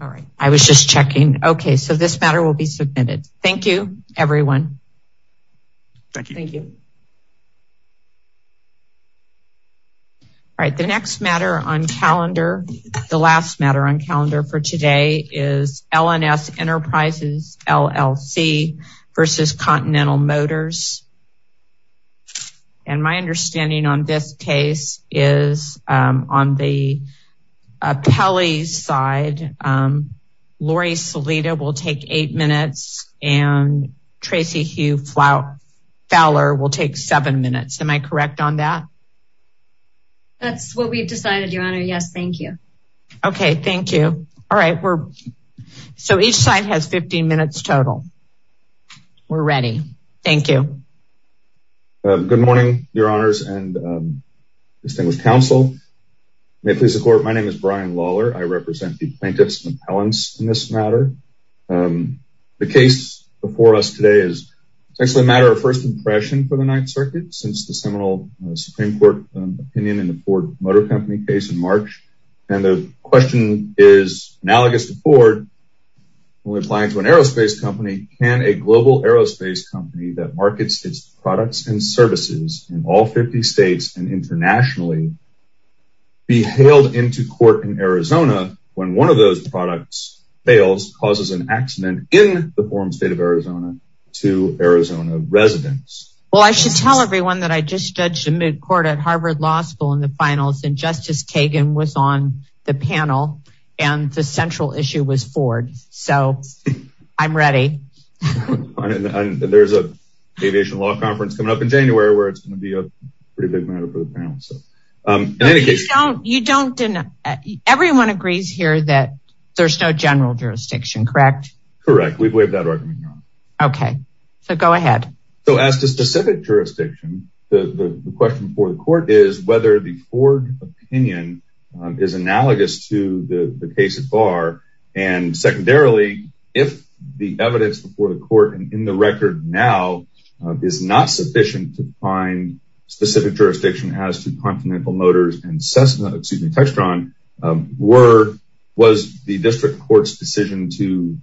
All right, I was just checking. Okay, so this matter will be submitted. Thank you, everyone. Thank you. All right, the next matter on calendar, the last matter on calendar for today is LNS Enterprises LLC v. Continental Motors. And my understanding on this case is on the appellee's side, Lori Salida will take eight minutes, and Tracy Hugh Fowler will take seven minutes. Am I correct on that? That's what we've decided, Your Honor. Yes, thank you. Okay, thank you. All right, so each side has 15 minutes total. We're ready. Thank you. Good morning, Your Honors and distinguished counsel. May it please the Court, my name is Brian Lawler. I represent the plaintiffs and appellants in this matter. The case before us today is essentially a matter of first impression for the Ninth Circuit since the seminal Supreme Court opinion in the Ford Motor Company case in when applying to an aerospace company, can a global aerospace company that markets its products and services in all 50 states and internationally be hailed into court in Arizona when one of those products fails, causes an accident in the foreign state of Arizona to Arizona residents? Well, I should tell everyone that I just judged a midcourt at Harvard Law in the finals and Justice Kagan was on the panel and the central issue was Ford, so I'm ready. There's a aviation law conference coming up in January where it's going to be a pretty big matter for the panel. Everyone agrees here that there's no general jurisdiction, correct? Correct, we believe that argument, Your Honor. Okay, so go ahead. So as to specific jurisdiction, the question before the court is whether the Ford opinion is analogous to the case of Barr and secondarily, if the evidence before the court and in the record now is not sufficient to find specific jurisdiction as to Continental Motors and Cessna, excuse me, Textron, was the district court's decision to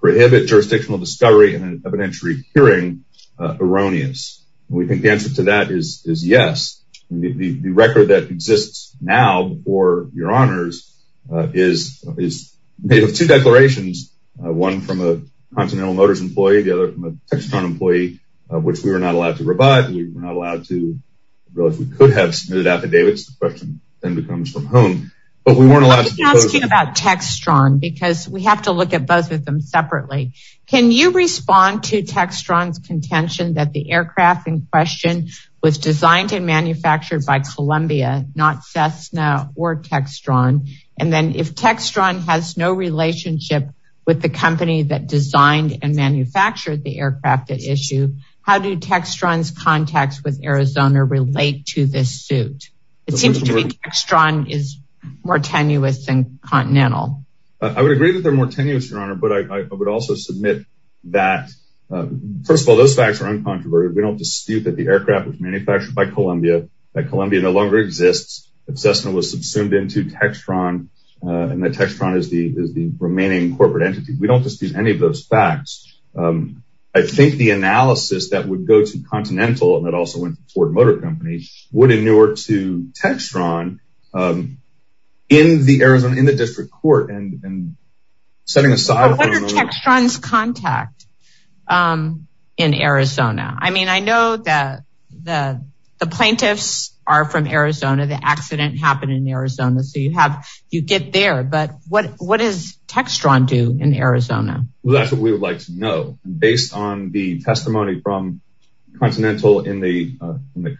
prohibit jurisdictional discovery in an evidentiary hearing erroneous? We think the answer to that is yes. The record that exists now before Your Honors is made of two declarations, one from a Continental Motors employee, the other from a Textron employee, which we were not allowed to revive. We were not allowed to, well, if we could have submitted affidavits, the question then becomes from whom, but we weren't allowed to propose. I'm asking about Textron because we have to look at both of them separately. Can you respond to Textron's contention that the aircraft in question was designed and manufactured by Columbia, not Cessna or Textron? And then if Textron has no relationship with the company that designed and manufactured the aircraft at issue, how do Textron's contacts with Arizona relate to this suit? It seems to me Textron is more tenuous than Continental. I would agree that they're more tenuous. First of all, those facts are uncontroverted. We don't dispute that the aircraft was manufactured by Columbia, that Columbia no longer exists, that Cessna was subsumed into Textron, and that Textron is the remaining corporate entity. We don't dispute any of those facts. I think the analysis that would go to Continental and that also went to Ford Motor would inure to Textron in the Arizona, in the district court. What are Textron's contacts in Arizona? I mean, I know that the plaintiffs are from Arizona, the accident happened in Arizona, so you get there, but what does Textron do in Arizona? That's what we would like to know based on the testimony from Continental in the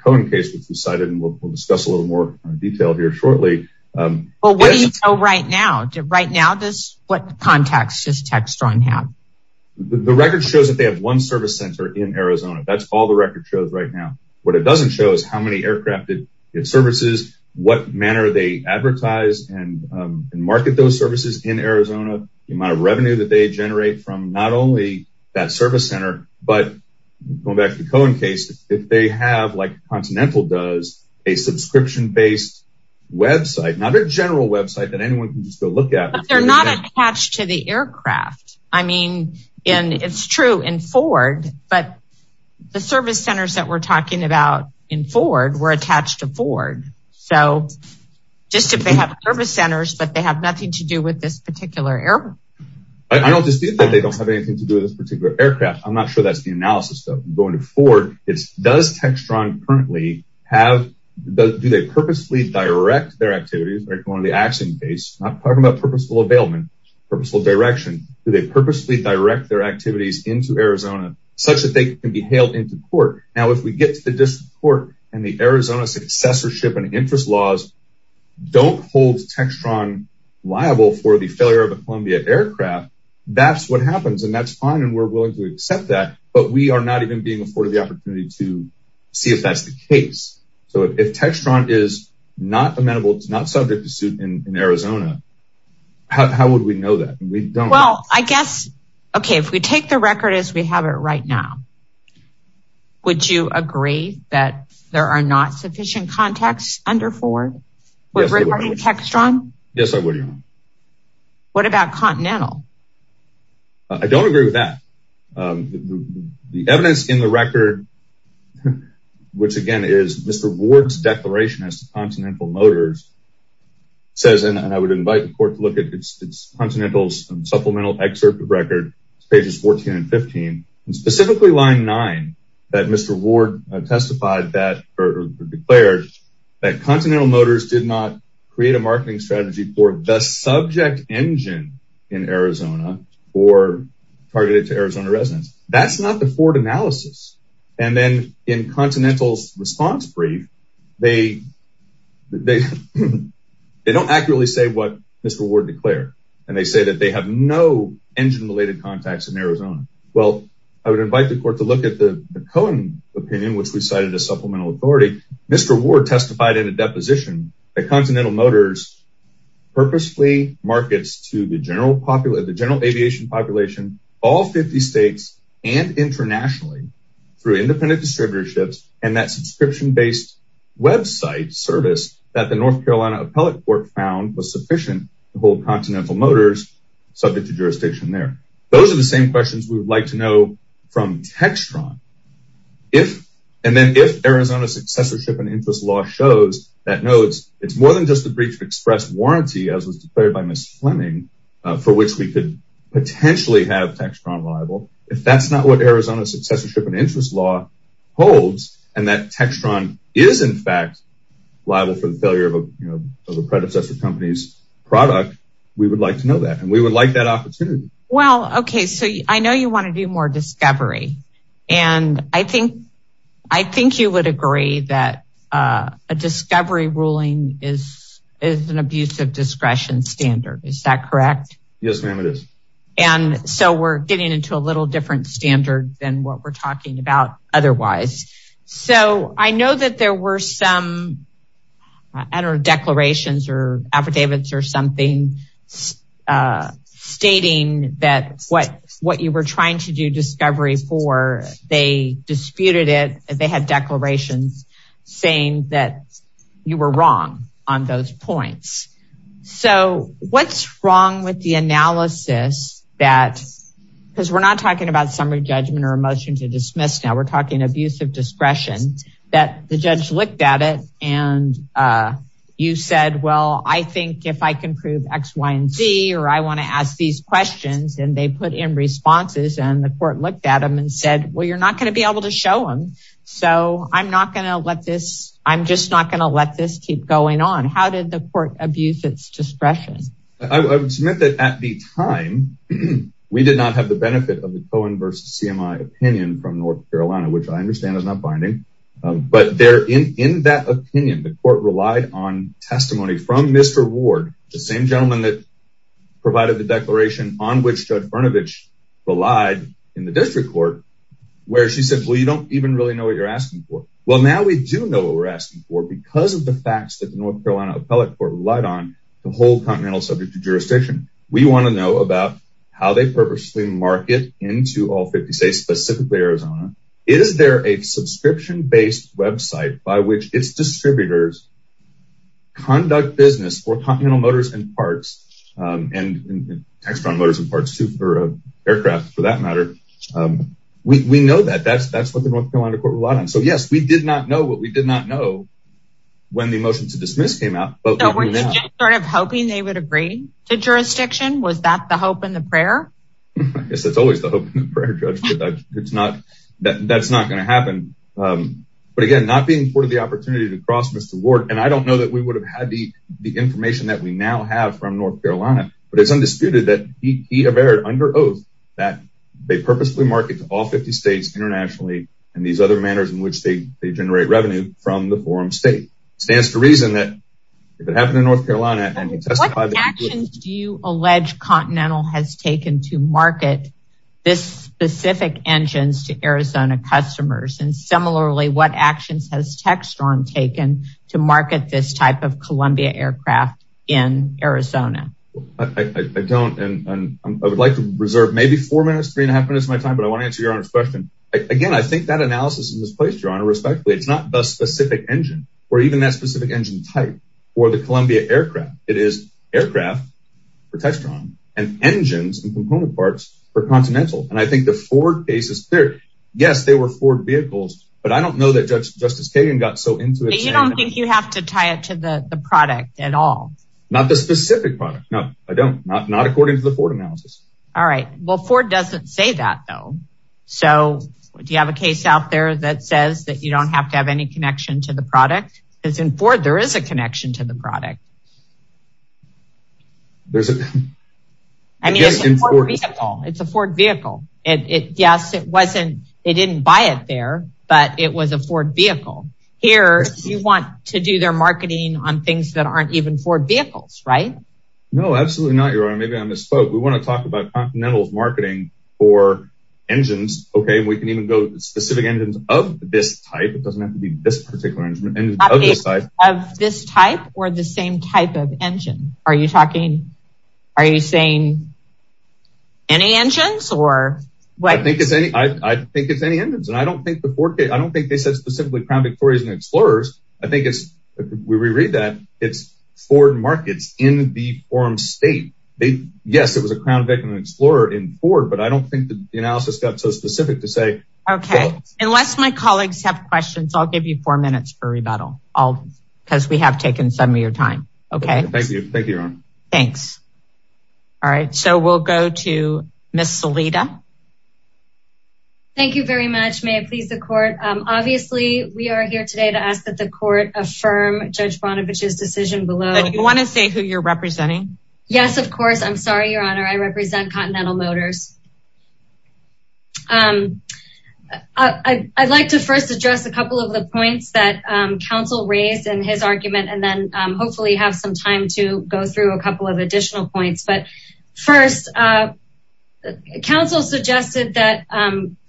Cohen case, which we cited, and we'll discuss a little more detail here shortly. Well, what do you know right now? Right now, what contacts does Textron have? The record shows that they have one service center in Arizona. That's all the record shows right now. What it doesn't show is how many aircraft it services, what manner they advertise and market those services in Arizona, the amount of revenue that they generate from not only that service center, but going back to the Cohen case, if they have, like Continental does, a subscription-based website, not a general website that anyone can just go look at. They're not attached to the aircraft. I mean, and it's true in Ford, but the service centers that we're talking about in Ford were attached to Ford. So just if they have service centers, but they have nothing to do with this particular airport. I don't dispute that they don't have anything to do with this particular aircraft. I'm not sure that's the analysis though. Going to Ford, it's does Textron currently have, do they purposely direct their activities, like on the Axiom case, not talking about purposeful availment, purposeful direction. Do they purposely direct their activities into Arizona such that they can be hailed into court? Now, if we get to the district court and the Arizona successorship and interest laws don't hold Textron liable for the failure of a Columbia aircraft, that's what happens. And that's fine. And we're willing to accept that, but we are not even being afforded the opportunity to see if that's the case. So if Textron is not amenable, not subject to suit in Arizona, how would we know that? Well, I guess, okay, if we take the record as we have it right now, would you agree that there are not sufficient contacts under Ford with regard to Textron? Yes, I would. What about Continental? I don't agree with that. The evidence in the record, which again is Mr. Ward's declaration as to Continental Motors says, and I would invite the court to look at it's Continental's supplemental excerpt of record, pages 14 and 15, and specifically line nine, that Mr. Ward testified that, or declared that Continental Motors did not create a marketing strategy for the subject engine in Arizona or targeted to Arizona residents. That's not the Ford analysis. And then in Continental's response brief, they don't accurately say what Mr. Ward declared. And they say that they have no engine related contacts in Arizona. Well, I would invite the opinion, which we cited as supplemental authority. Mr. Ward testified in a deposition that Continental Motors purposely markets to the general aviation population, all 50 states and internationally through independent distributorships and that subscription-based website service that the North Carolina appellate court found was sufficient to hold Continental Motors subject to jurisdiction there. Those are the same questions we would like to know from Textron. And then if Arizona successorship and interest law shows that no, it's more than just the breach of express warranty as was declared by Ms. Fleming, for which we could potentially have Textron liable. If that's not what Arizona successorship and interest law holds, and that Textron is in fact liable for the failure of a predecessor company's product, we would like to know that and we would like that opportunity. Well, okay. So I know you want to do more discovery. And I think you would agree that a discovery ruling is an abuse of discretion standard. Is that correct? Yes, ma'am, it is. And so we're getting into a little different standard than what we're talking about otherwise. So I know that there were some declarations or affidavits or something stating that what you were trying to do discovery for, they disputed it. They had declarations saying that you were wrong on those points. So what's wrong with the analysis that, because we're not talking about summary judgment or a motion to dismiss now, we're talking abuse of discretion, that the judge looked at it and you said, well, I think if I can prove X, Y, and Z, or I want to ask these questions and they put in responses and the court looked at them and said, well, you're not going to be able to show them. So I'm not going to let this, I'm just not going to let this keep going on. How did the court abuse its discretion? I would submit that at the time, we did not have the benefit of the Cohen versus CMI opinion from North Carolina, which I understand is not binding. But there in that opinion, the court relied on testimony from Mr. Ward, the same gentleman that provided the declaration on which Judge Brnovich relied in the district court, where she said, well, you don't even really know what you're asking for. Well, now we do know what we're asking for because of the facts that the North Carolina appellate court relied on the whole continental subject to jurisdiction. We want to know about how they purposely market into all 50 states, specifically Arizona. Is there a subscription based website by which its distributors conduct business for Continental Motors and Parts, and Textron Motors and Parts too for aircraft for that matter. We know that that's what the North Carolina court relied on. So yes, we did not know what we did not know when the motion to dismiss came out. But we're just sort of hoping they would agree to jurisdiction. Was that the hope in the prayer? Yes, that's always the hope in the prayer. It's not that that's not going to happen. But again, not being part of the opportunity to cross Mr. Ward, and I don't know that we would have had the the information that we now have from North Carolina. But it's undisputed that he averred under oath that they purposefully market to all 50 states internationally, and these other manners in which they generate revenue from the forum state stands to reason if it happened in North Carolina. What actions do you allege Continental has taken to market this specific engines to Arizona customers? And similarly, what actions has Textron taken to market this type of Columbia aircraft in Arizona? I don't and I would like to reserve maybe four minutes, three and a half minutes of my time, but I want to answer your honor's question. Again, I think that analysis is misplaced your honor respectfully. It's not the specific engine, or even that specific engine type, or the Columbia aircraft. It is aircraft for Textron, and engines and component parts for Continental. And I think the Ford case is clear. Yes, they were Ford vehicles. But I don't know that Judge Justice Kagan got so into it. You don't think you have to tie it to the product at all? Not the specific product? No, I don't not not according to the Ford analysis. All right. Well, Ford doesn't say that, though. So do you have a case out there that says that you don't have to have any connection to the product? Because in Ford, there is a connection to the product. I mean, it's a Ford vehicle. It's a Ford vehicle. And yes, it wasn't, it didn't buy it there. But it was a Ford vehicle. Here, you want to do their marketing on things that aren't even Ford vehicles, right? No, absolutely not, your honor. Maybe I misspoke. We want to talk about Continental's marketing for engines. Okay, we can even go to specific engines of this type. It doesn't have to be this particular engine of this type or the same type of engine. Are you talking? Are you saying any engines or? I think it's any I think it's any engines. And I don't think the Ford case I don't think they said specifically Crown Victorias and Explorers. I think it's we read that it's Ford markets in the forum state. They Yes, it was a Okay, unless my colleagues have questions. I'll give you four minutes for rebuttal. I'll because we have taken some of your time. Okay, thank you. Thanks. All right. So we'll go to Miss Salida. Thank you very much. May it please the court. Obviously, we are here today to ask that the court affirm Judge Bonavich's decision below. You want to say who you're I'd like to first address a couple of the points that counsel raised in his argument, and then hopefully have some time to go through a couple of additional points. But first, counsel suggested that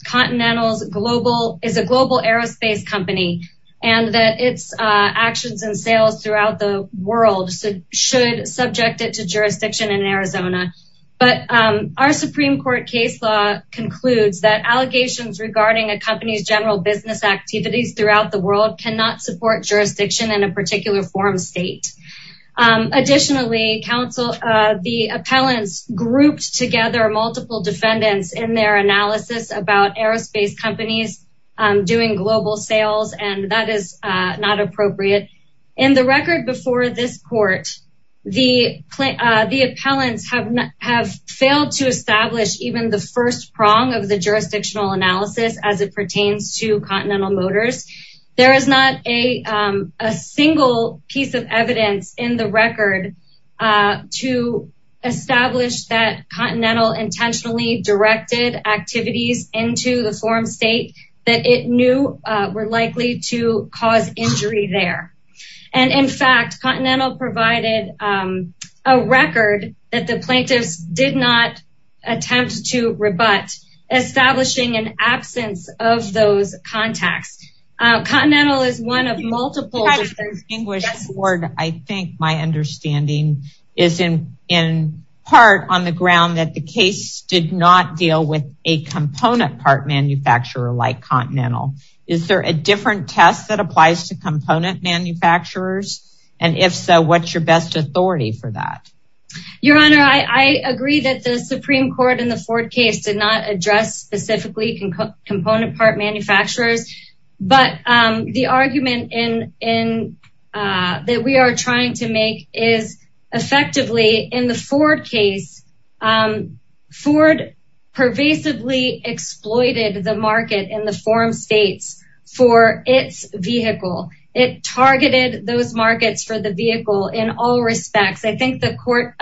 Continental's global is a global aerospace company, and that its actions and sales throughout the world should subject it to jurisdiction in Arizona. But our Supreme Court case law concludes that allegations regarding a company's general business activities throughout the world cannot support jurisdiction in a particular forum state. Additionally, counsel, the appellants grouped together multiple defendants in their analysis about aerospace companies doing global sales, and that is not appropriate. In the record before this court, the the appellants have have failed to establish even the first prong of the jurisdictional analysis as it pertains to Continental Motors. There is not a single piece of evidence in the record to establish that Continental intentionally directed activities into the forum state that it were likely to cause injury there. And in fact, Continental provided a record that the plaintiffs did not attempt to rebut establishing an absence of those contacts. Continental is one of multiple distinguished board. I think my understanding is in part on the ground that the case did not deal a component part manufacturer like Continental. Is there a different test that applies to component manufacturers? And if so, what's your best authority for that? Your Honor, I agree that the Supreme Court in the Ford case did not address specifically component part manufacturers. But the argument that we are trying to make is effectively in the Ford case, Ford pervasively exploited the market in the forum states for its vehicle. It targeted those markets for the vehicle in all respects. I think the court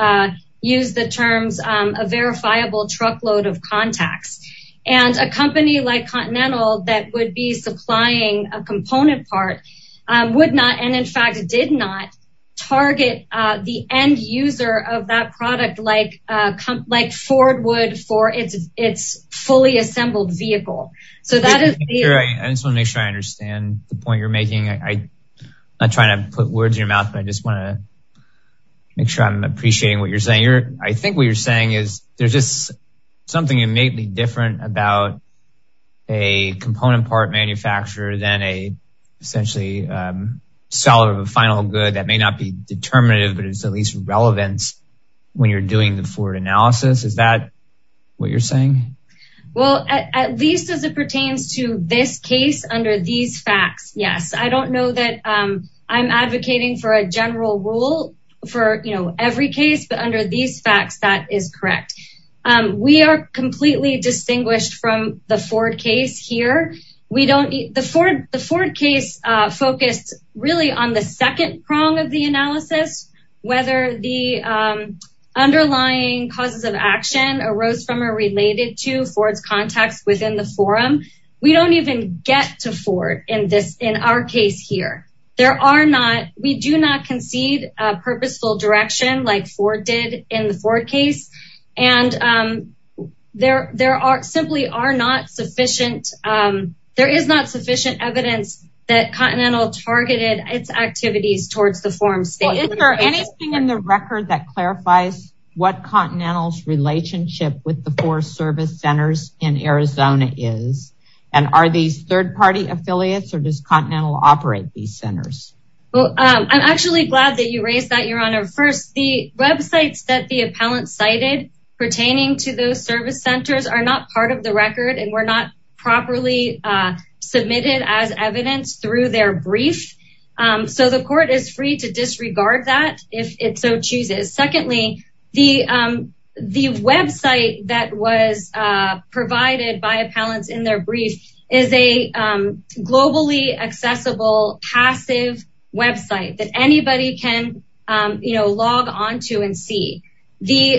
used the terms a verifiable truckload of contacts and a company like Continental that would be supplying a component part would not and in fact did not target the end user of that product like Ford would for its fully assembled vehicle. I just want to make sure I understand the point you're making. I'm not trying to put words in your mouth, but I just want to make sure I'm appreciating what you're saying. I think what you're saying is there's just something innately different about a component part manufacturer than essentially the seller of a final good that may not be determinative, but it's at least relevant when you're doing the Ford analysis. Is that what you're saying? Well, at least as it pertains to this case under these facts, yes. I don't know that I'm advocating for a general rule for every case, but under these facts, that is correct. We are completely distinguished from the Ford case here. The Ford case focused really on the second prong of the analysis, whether the underlying causes of action arose from or related to Ford's contacts within the forum. We don't even get to Ford in our case here. We do not concede a purposeful direction like Ford did in the Ford case. There is not sufficient evidence that Continental targeted its activities towards the forum state. Is there anything in the record that clarifies what Continental's relationship with the four service centers in Arizona is? Are these third party affiliates or does Continental operate these centers? I'm actually glad that you raised that, first. The websites that the appellant cited pertaining to those service centers are not part of the record and were not properly submitted as evidence through their brief. The court is free to disregard that if it so chooses. Secondly, the website that was provided in their brief is a globally accessible, passive website that anybody can log onto and see. The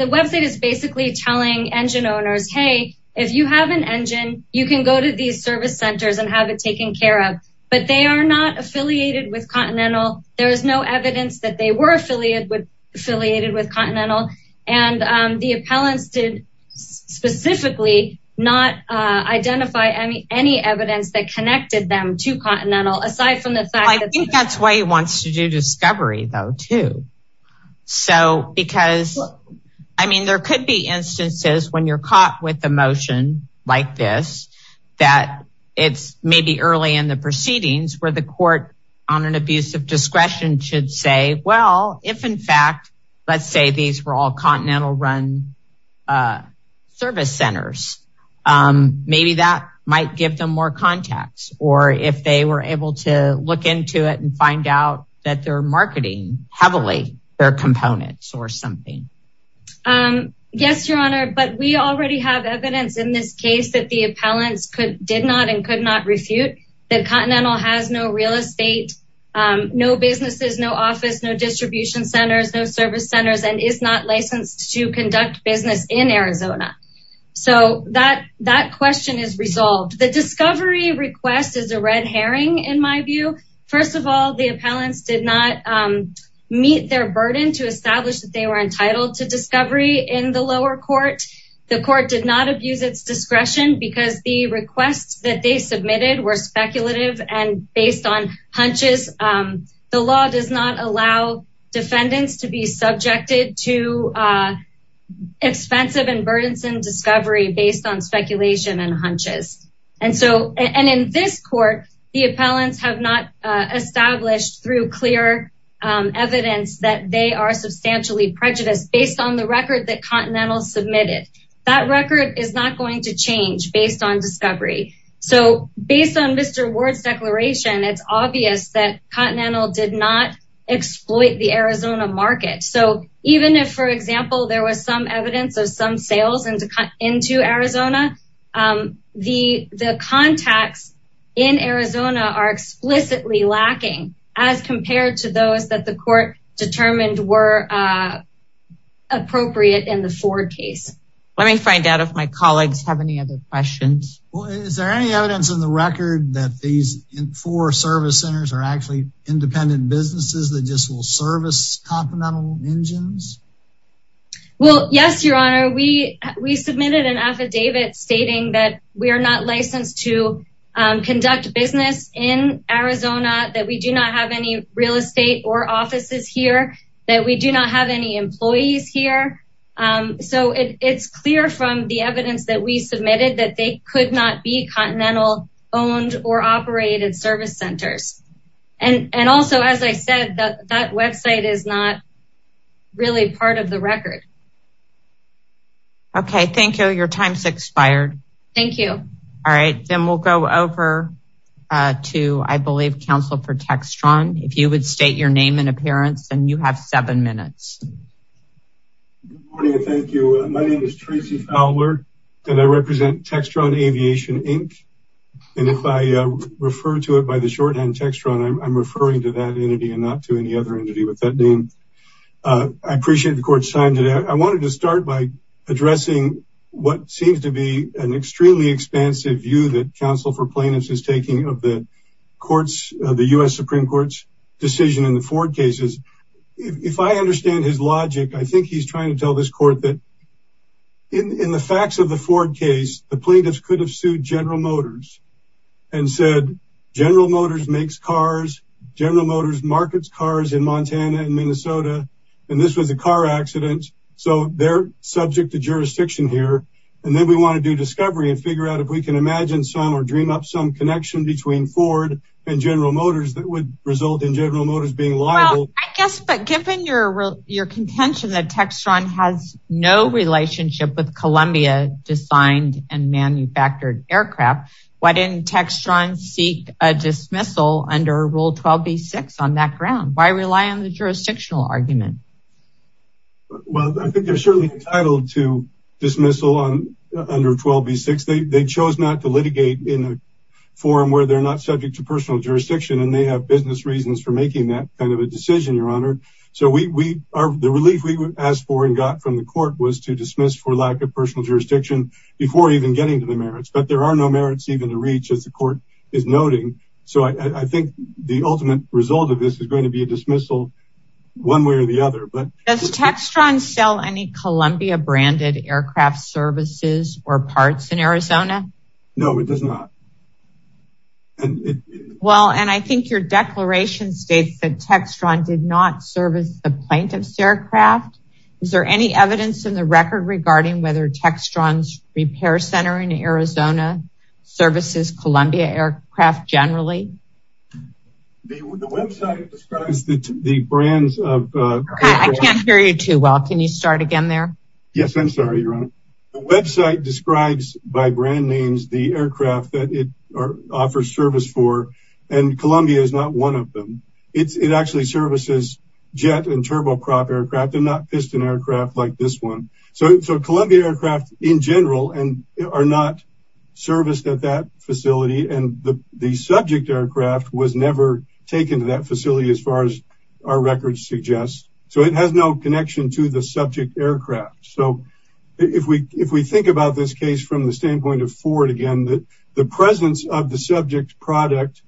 website is basically telling engine owners, hey, if you have an engine, you can go to these service centers and have it taken care of, but they are not affiliated with Continental. There is no evidence that they were affiliated with Continental, and the appellants did specifically not identify any evidence that connected them to Continental, aside from the fact that- I think that's why he wants to do discovery though, too. There could be instances when you're caught with a motion like this, that it's maybe early in the proceedings where the should say, well, if in fact, let's say these were all Continental run service centers, maybe that might give them more contacts, or if they were able to look into it and find out that they're marketing heavily their components or something. Yes, Your Honor, but we already have evidence in this case that the appellants did not and could not refute that Continental has no real estate, no businesses, no office, no distribution centers, no service centers, and is not licensed to conduct business in Arizona. So that question is resolved. The discovery request is a red herring, in my view. First of all, the appellants did not meet their burden to establish that they were entitled to discovery in the lower court. The requests that they submitted were speculative and based on hunches. The law does not allow defendants to be subjected to expensive and burdensome discovery based on speculation and hunches. And in this court, the appellants have not established through clear evidence that they are substantially prejudiced based on the record that Continental submitted. That record is not going to change based on discovery. So based on Mr. Ward's declaration, it's obvious that Continental did not exploit the Arizona market. So even if, for example, there was some evidence of some sales into Arizona, the contacts in Arizona are explicitly lacking as compared to those that the court determined were appropriate in the Ford case. Let me find out if my colleagues have any other questions. Well, is there any evidence in the record that these four service centers are actually independent businesses that just will service Continental engines? Well, yes, Your Honor, we submitted an affidavit stating that we are not licensed to conduct business in Arizona, that we do not have any real estate or offices here, that we do not have any submitted that they could not be Continental owned or operated service centers. And also, as I said, that website is not really part of the record. Okay, thank you. Your time's expired. Thank you. All right, then we'll go over to, I believe, Counsel for Textron. If you would state your name and appearance, then you have seven minutes. Good morning and thank you. My represent Textron Aviation, Inc. And if I refer to it by the shorthand Textron, I'm referring to that entity and not to any other entity with that name. I appreciate the court's time today. I wanted to start by addressing what seems to be an extremely expansive view that Counsel for Plaintiffs is taking of the courts, the US Supreme Court's decision in the Ford cases. If I understand his logic, I think he's trying to tell this court that in the facts of the Ford case, the plaintiffs could have sued General Motors and said General Motors makes cars, General Motors markets cars in Montana and Minnesota, and this was a car accident. So they're subject to jurisdiction here. And then we want to do discovery and figure out if we can imagine some or dream up some connection between Ford and General Motors that would result in General Motors being liable. I guess but given your your contention that Textron has no relationship with Columbia designed and manufactured aircraft, why didn't Textron seek a dismissal under Rule 12b-6 on that ground? Why rely on the jurisdictional argument? Well, I think they're certainly entitled to dismissal on under 12b-6. They chose not to litigate in a forum where they're not subject to personal jurisdiction and they have business reasons for making that kind of a decision, Your Honor. So we are the relief we asked for and got from the court was to dismiss for lack of personal jurisdiction before even getting to the merits. But there are no merits even to reach as the court is noting. So I think the ultimate result of this is going to be a dismissal one way or the other. But does Textron sell any Columbia branded aircraft services or parts in Arizona? No, it does not. Well, and I think your declaration states that Textron did not serve as the plaintiff's aircraft. Is there any evidence in the record regarding whether Textron's repair center in Arizona services Columbia aircraft generally? The website describes the brands of... I can't hear you too well. Can you start again there? Yes, I'm sorry, Your Honor. The website describes by brand names the aircraft that it offers service for and Columbia is not one of them. It actually services jet and turboprop aircraft and not piston aircraft like this one. So Columbia aircraft in general are not serviced at that facility and the subject aircraft was never taken to that facility as far as our records suggest. So it has no connection to the subject aircraft. So if we think about this case from the standpoint of Ford again, the presence of the subject product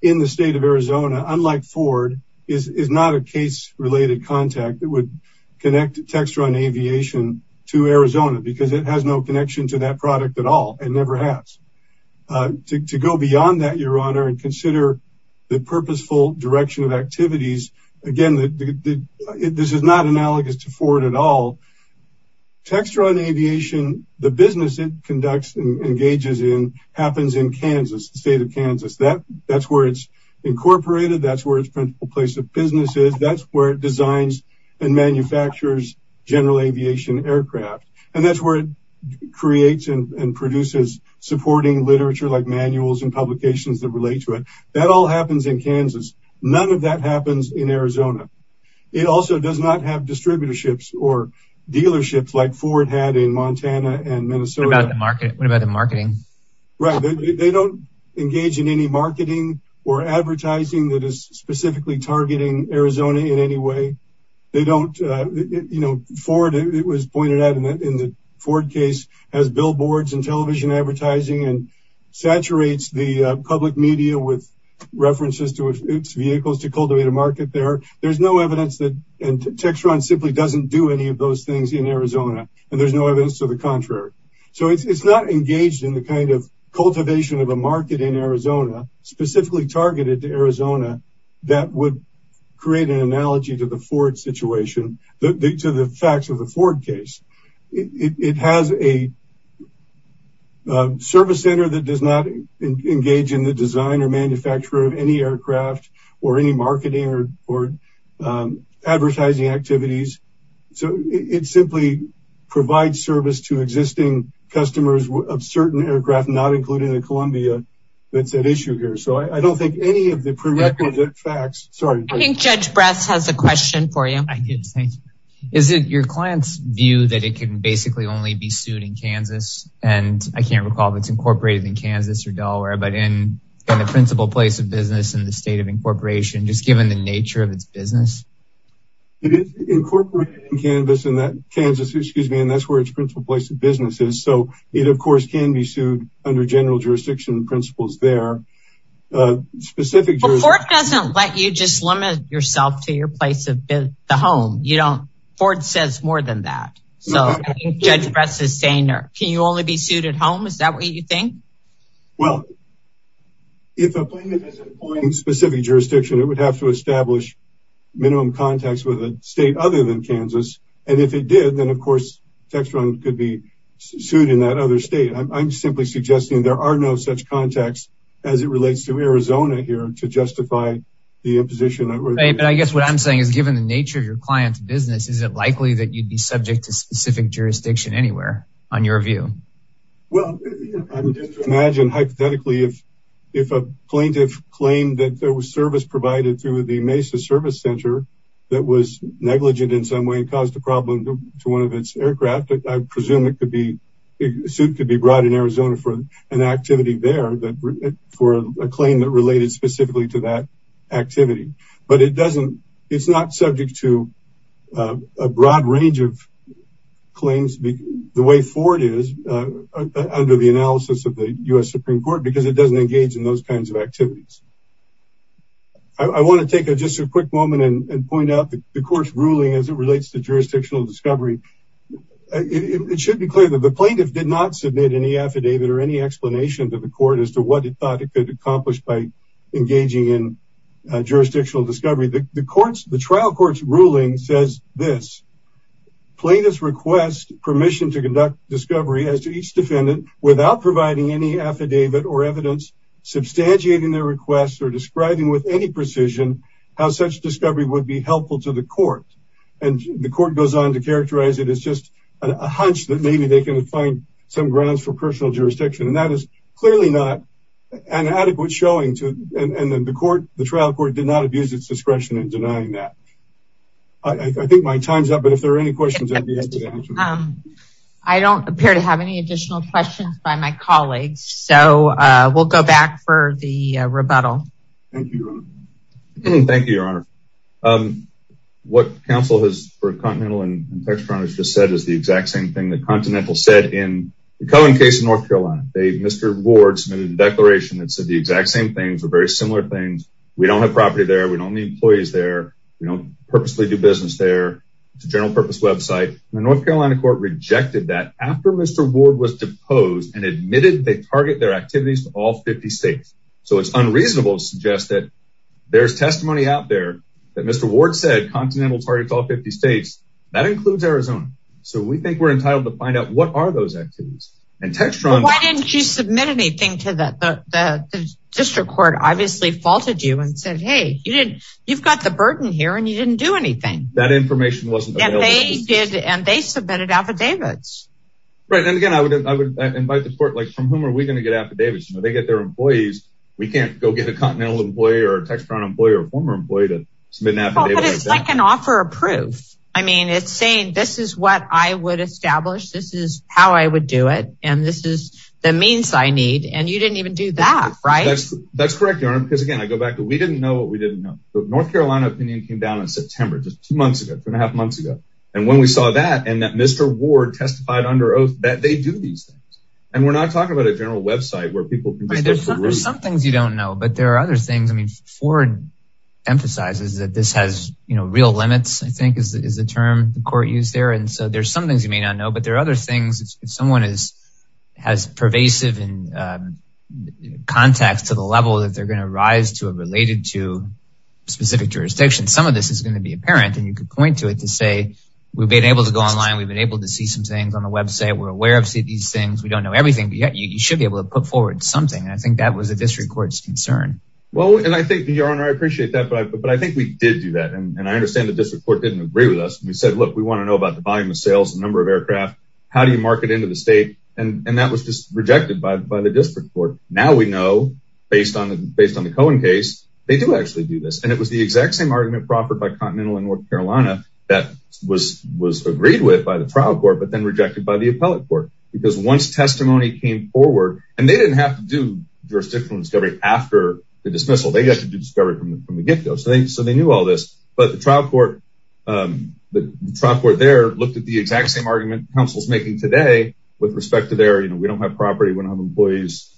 in the state of Arizona, unlike Ford, is not a case related contact that would connect Textron Aviation to Arizona because it has no connection to that product at all. It never has. To go beyond that, Your Honor, and consider the purposeful direction of activities, again, this is not analogous to Ford at all. Textron Aviation, the business it conducts and engages in happens in Kansas, the state of Kansas. That's where it's incorporated. That's where its principal place of business is. That's where it designs and manufactures general aviation aircraft and that's where it creates and produces supporting literature like manuals and publications that relate to it. That all happens in Kansas. None of that happens in Arizona. It also does not have distributorships or dealerships like Ford had in Montana and Minnesota. What about the marketing? Right, they don't engage in any marketing or advertising that is specifically targeting Arizona in any way. Ford, it was pointed out in the Ford case, has billboards and television advertising and saturates the public media with references to its vehicles to cultivate a market there. There's no evidence that Textron simply doesn't do any of those things in Arizona and there's no evidence to the contrary. So it's not engaged in the kind of cultivation of a market in Arizona specifically targeted to Arizona that would create an analogy to the Ford situation, to the facts of the Ford case. It has a service center that does not engage in the design or manufacture of any aircraft or any marketing or advertising activities. So it simply provides service to existing customers of certain aircraft, not including the Columbia that's at issue here. So I don't think any of the facts, sorry. I think Judge Brass has a question for you. Is it your client's view that it can basically only be sued in Kansas? And I can't recall if it's incorporated in Kansas or Delaware, but in the principal place of business in the state of incorporation, just given the nature of its business? It is incorporated in Kansas and that is where its principal place of business is. So it of course can be sued under general jurisdiction principles there. Ford doesn't let you just limit yourself to your place of the home. Ford says more than that. So Judge Brass is saying, can you only be sued at home? Is that what you think? Well, if a plaintiff has a point in specific jurisdiction, it would have to establish minimum contacts with a state other than Kansas. And if it did, then of course, Textron could be sued in that other state. I'm simply suggesting there are no such contacts as it relates to Arizona here to justify the imposition. But I guess what I'm saying is, given the nature of your client's business, is it likely that you'd be subject to specific jurisdiction anywhere on your view? Well, imagine hypothetically, if a plaintiff claimed that there was a service center that was negligent in some way and caused a problem to one of its aircraft, I presume a suit could be brought in Arizona for an activity there for a claim that related specifically to that activity. But it's not subject to a broad range of claims the way Ford is under the analysis of the U.S. Supreme Court because it doesn't engage in those kinds of activities. I want to take just a quick moment and point out the court's ruling as it relates to jurisdictional discovery. It should be clear that the plaintiff did not submit any affidavit or any explanation to the court as to what it thought it could accomplish by engaging in jurisdictional discovery. The trial court's ruling says this, plaintiffs request permission to conduct discovery as to each defendant without providing any affidavit or evidence, substantiating their request or describing with any precision how such discovery would be helpful to the court. The court goes on to characterize it as just a hunch that maybe they can find some grounds for personal jurisdiction. That is clearly not an adequate showing and the trial court did not abuse its discretion in denying that. I think my time's up, but if there are any questions. I don't appear to have any additional questions by my colleagues, so we'll go back for the rebuttal. Thank you, your honor. What counsel has for Continental and Textron has just said is the exact same thing that Continental said in the Cohen case in North Carolina. They, Mr. Ward submitted a declaration that said the exact same things or very similar things. We don't have property there, we don't need employees there, we don't purposely do business there, it's a general purpose website. The North Carolina court rejected that after Mr. Ward was deposed and admitted they their activities to all 50 states. So it's unreasonable to suggest that there's testimony out there that Mr. Ward said Continental targets all 50 states, that includes Arizona. So we think we're entitled to find out what are those activities. And Textron- Why didn't you submit anything to the district court? Obviously faulted you and said, hey, you didn't, you've got the burden here and you didn't do anything. That information wasn't available. And they submitted affidavits. Right. And again, I would invite the court, like from whom are we going to get affidavits? They get their employees. We can't go get a Continental employee or a Textron employee or former employee to submit an affidavit. It's like an offer of proof. I mean, it's saying this is what I would establish. This is how I would do it. And this is the means I need. And you didn't even do that, right? That's correct, your honor. Because again, I go back to we didn't know what we didn't know. The North Carolina opinion came down in September, just two months ago, and when we saw that and that Mr. Ward testified under oath that they do these things. And we're not talking about a general website where people- There's some things you don't know, but there are other things. I mean, Ford emphasizes that this has, you know, real limits, I think is the term the court used there. And so there's some things you may not know, but there are other things if someone is, has pervasive and contacts to the level that they're going to rise to a related to and you could point to it to say, we've been able to go online. We've been able to see some things on the website. We're aware of these things. We don't know everything, but yet you should be able to put forward something. And I think that was a district court's concern. Well, and I think your honor, I appreciate that, but I think we did do that. And I understand the district court didn't agree with us. We said, look, we want to know about the volume of sales, the number of aircraft, how do you market into the state? And that was just rejected by the district court. Now we know based on the Cohen case, they do actually do this. And it was the exact same argument proffered by continental and North Carolina that was, was agreed with by the trial court, but then rejected by the appellate court because once testimony came forward and they didn't have to do jurisdictional discovery after the dismissal, they got to do discovery from the, from the get-go. So they, so they knew all this, but the trial court, the trial court there looked at the exact same argument council's making today with respect to their, you know, we don't have property, we don't have employees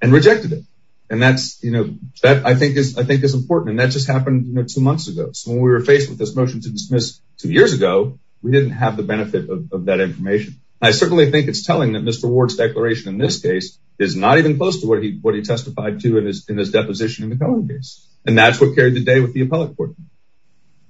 and rejected it. And that's, you know, that I think is, I think is important. And that just happened two months ago. So when we were faced with this motion to dismiss two years ago, we didn't have the benefit of that information. I certainly think it's telling that Mr. Ward's declaration in this case is not even close to what he, what he testified to in his deposition in the Cohen case. And that's what carried the day with the appellate court.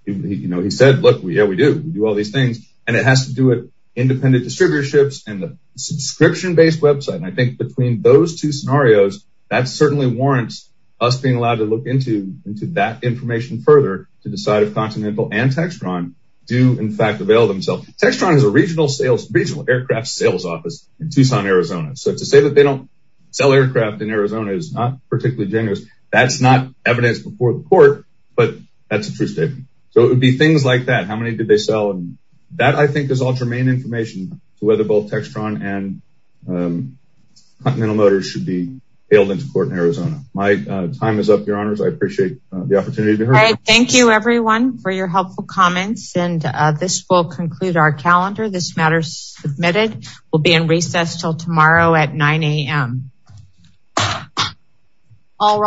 He, you know, he said, look, we, yeah, we do, we do all these things and it has to do with independent distributorships and the subscription-based website. And I think between those two scenarios, that certainly warrants us being allowed to look into, into that information further to decide if Continental and Textron do in fact avail themselves. Textron is a regional sales, regional aircraft sales office in Tucson, Arizona. So to say that they don't sell aircraft in Arizona is not particularly generous. That's not evidence before the court, but that's a true statement. So it would be things like that. How many did they sell? And that I think is information to whether both Textron and Continental Motors should be hailed into court in Arizona. My time is up, your honors. I appreciate the opportunity. All right. Thank you everyone for your helpful comments. And this will conclude our calendar. This matter is submitted. We'll be in recess till tomorrow at 9 a.m. All rise.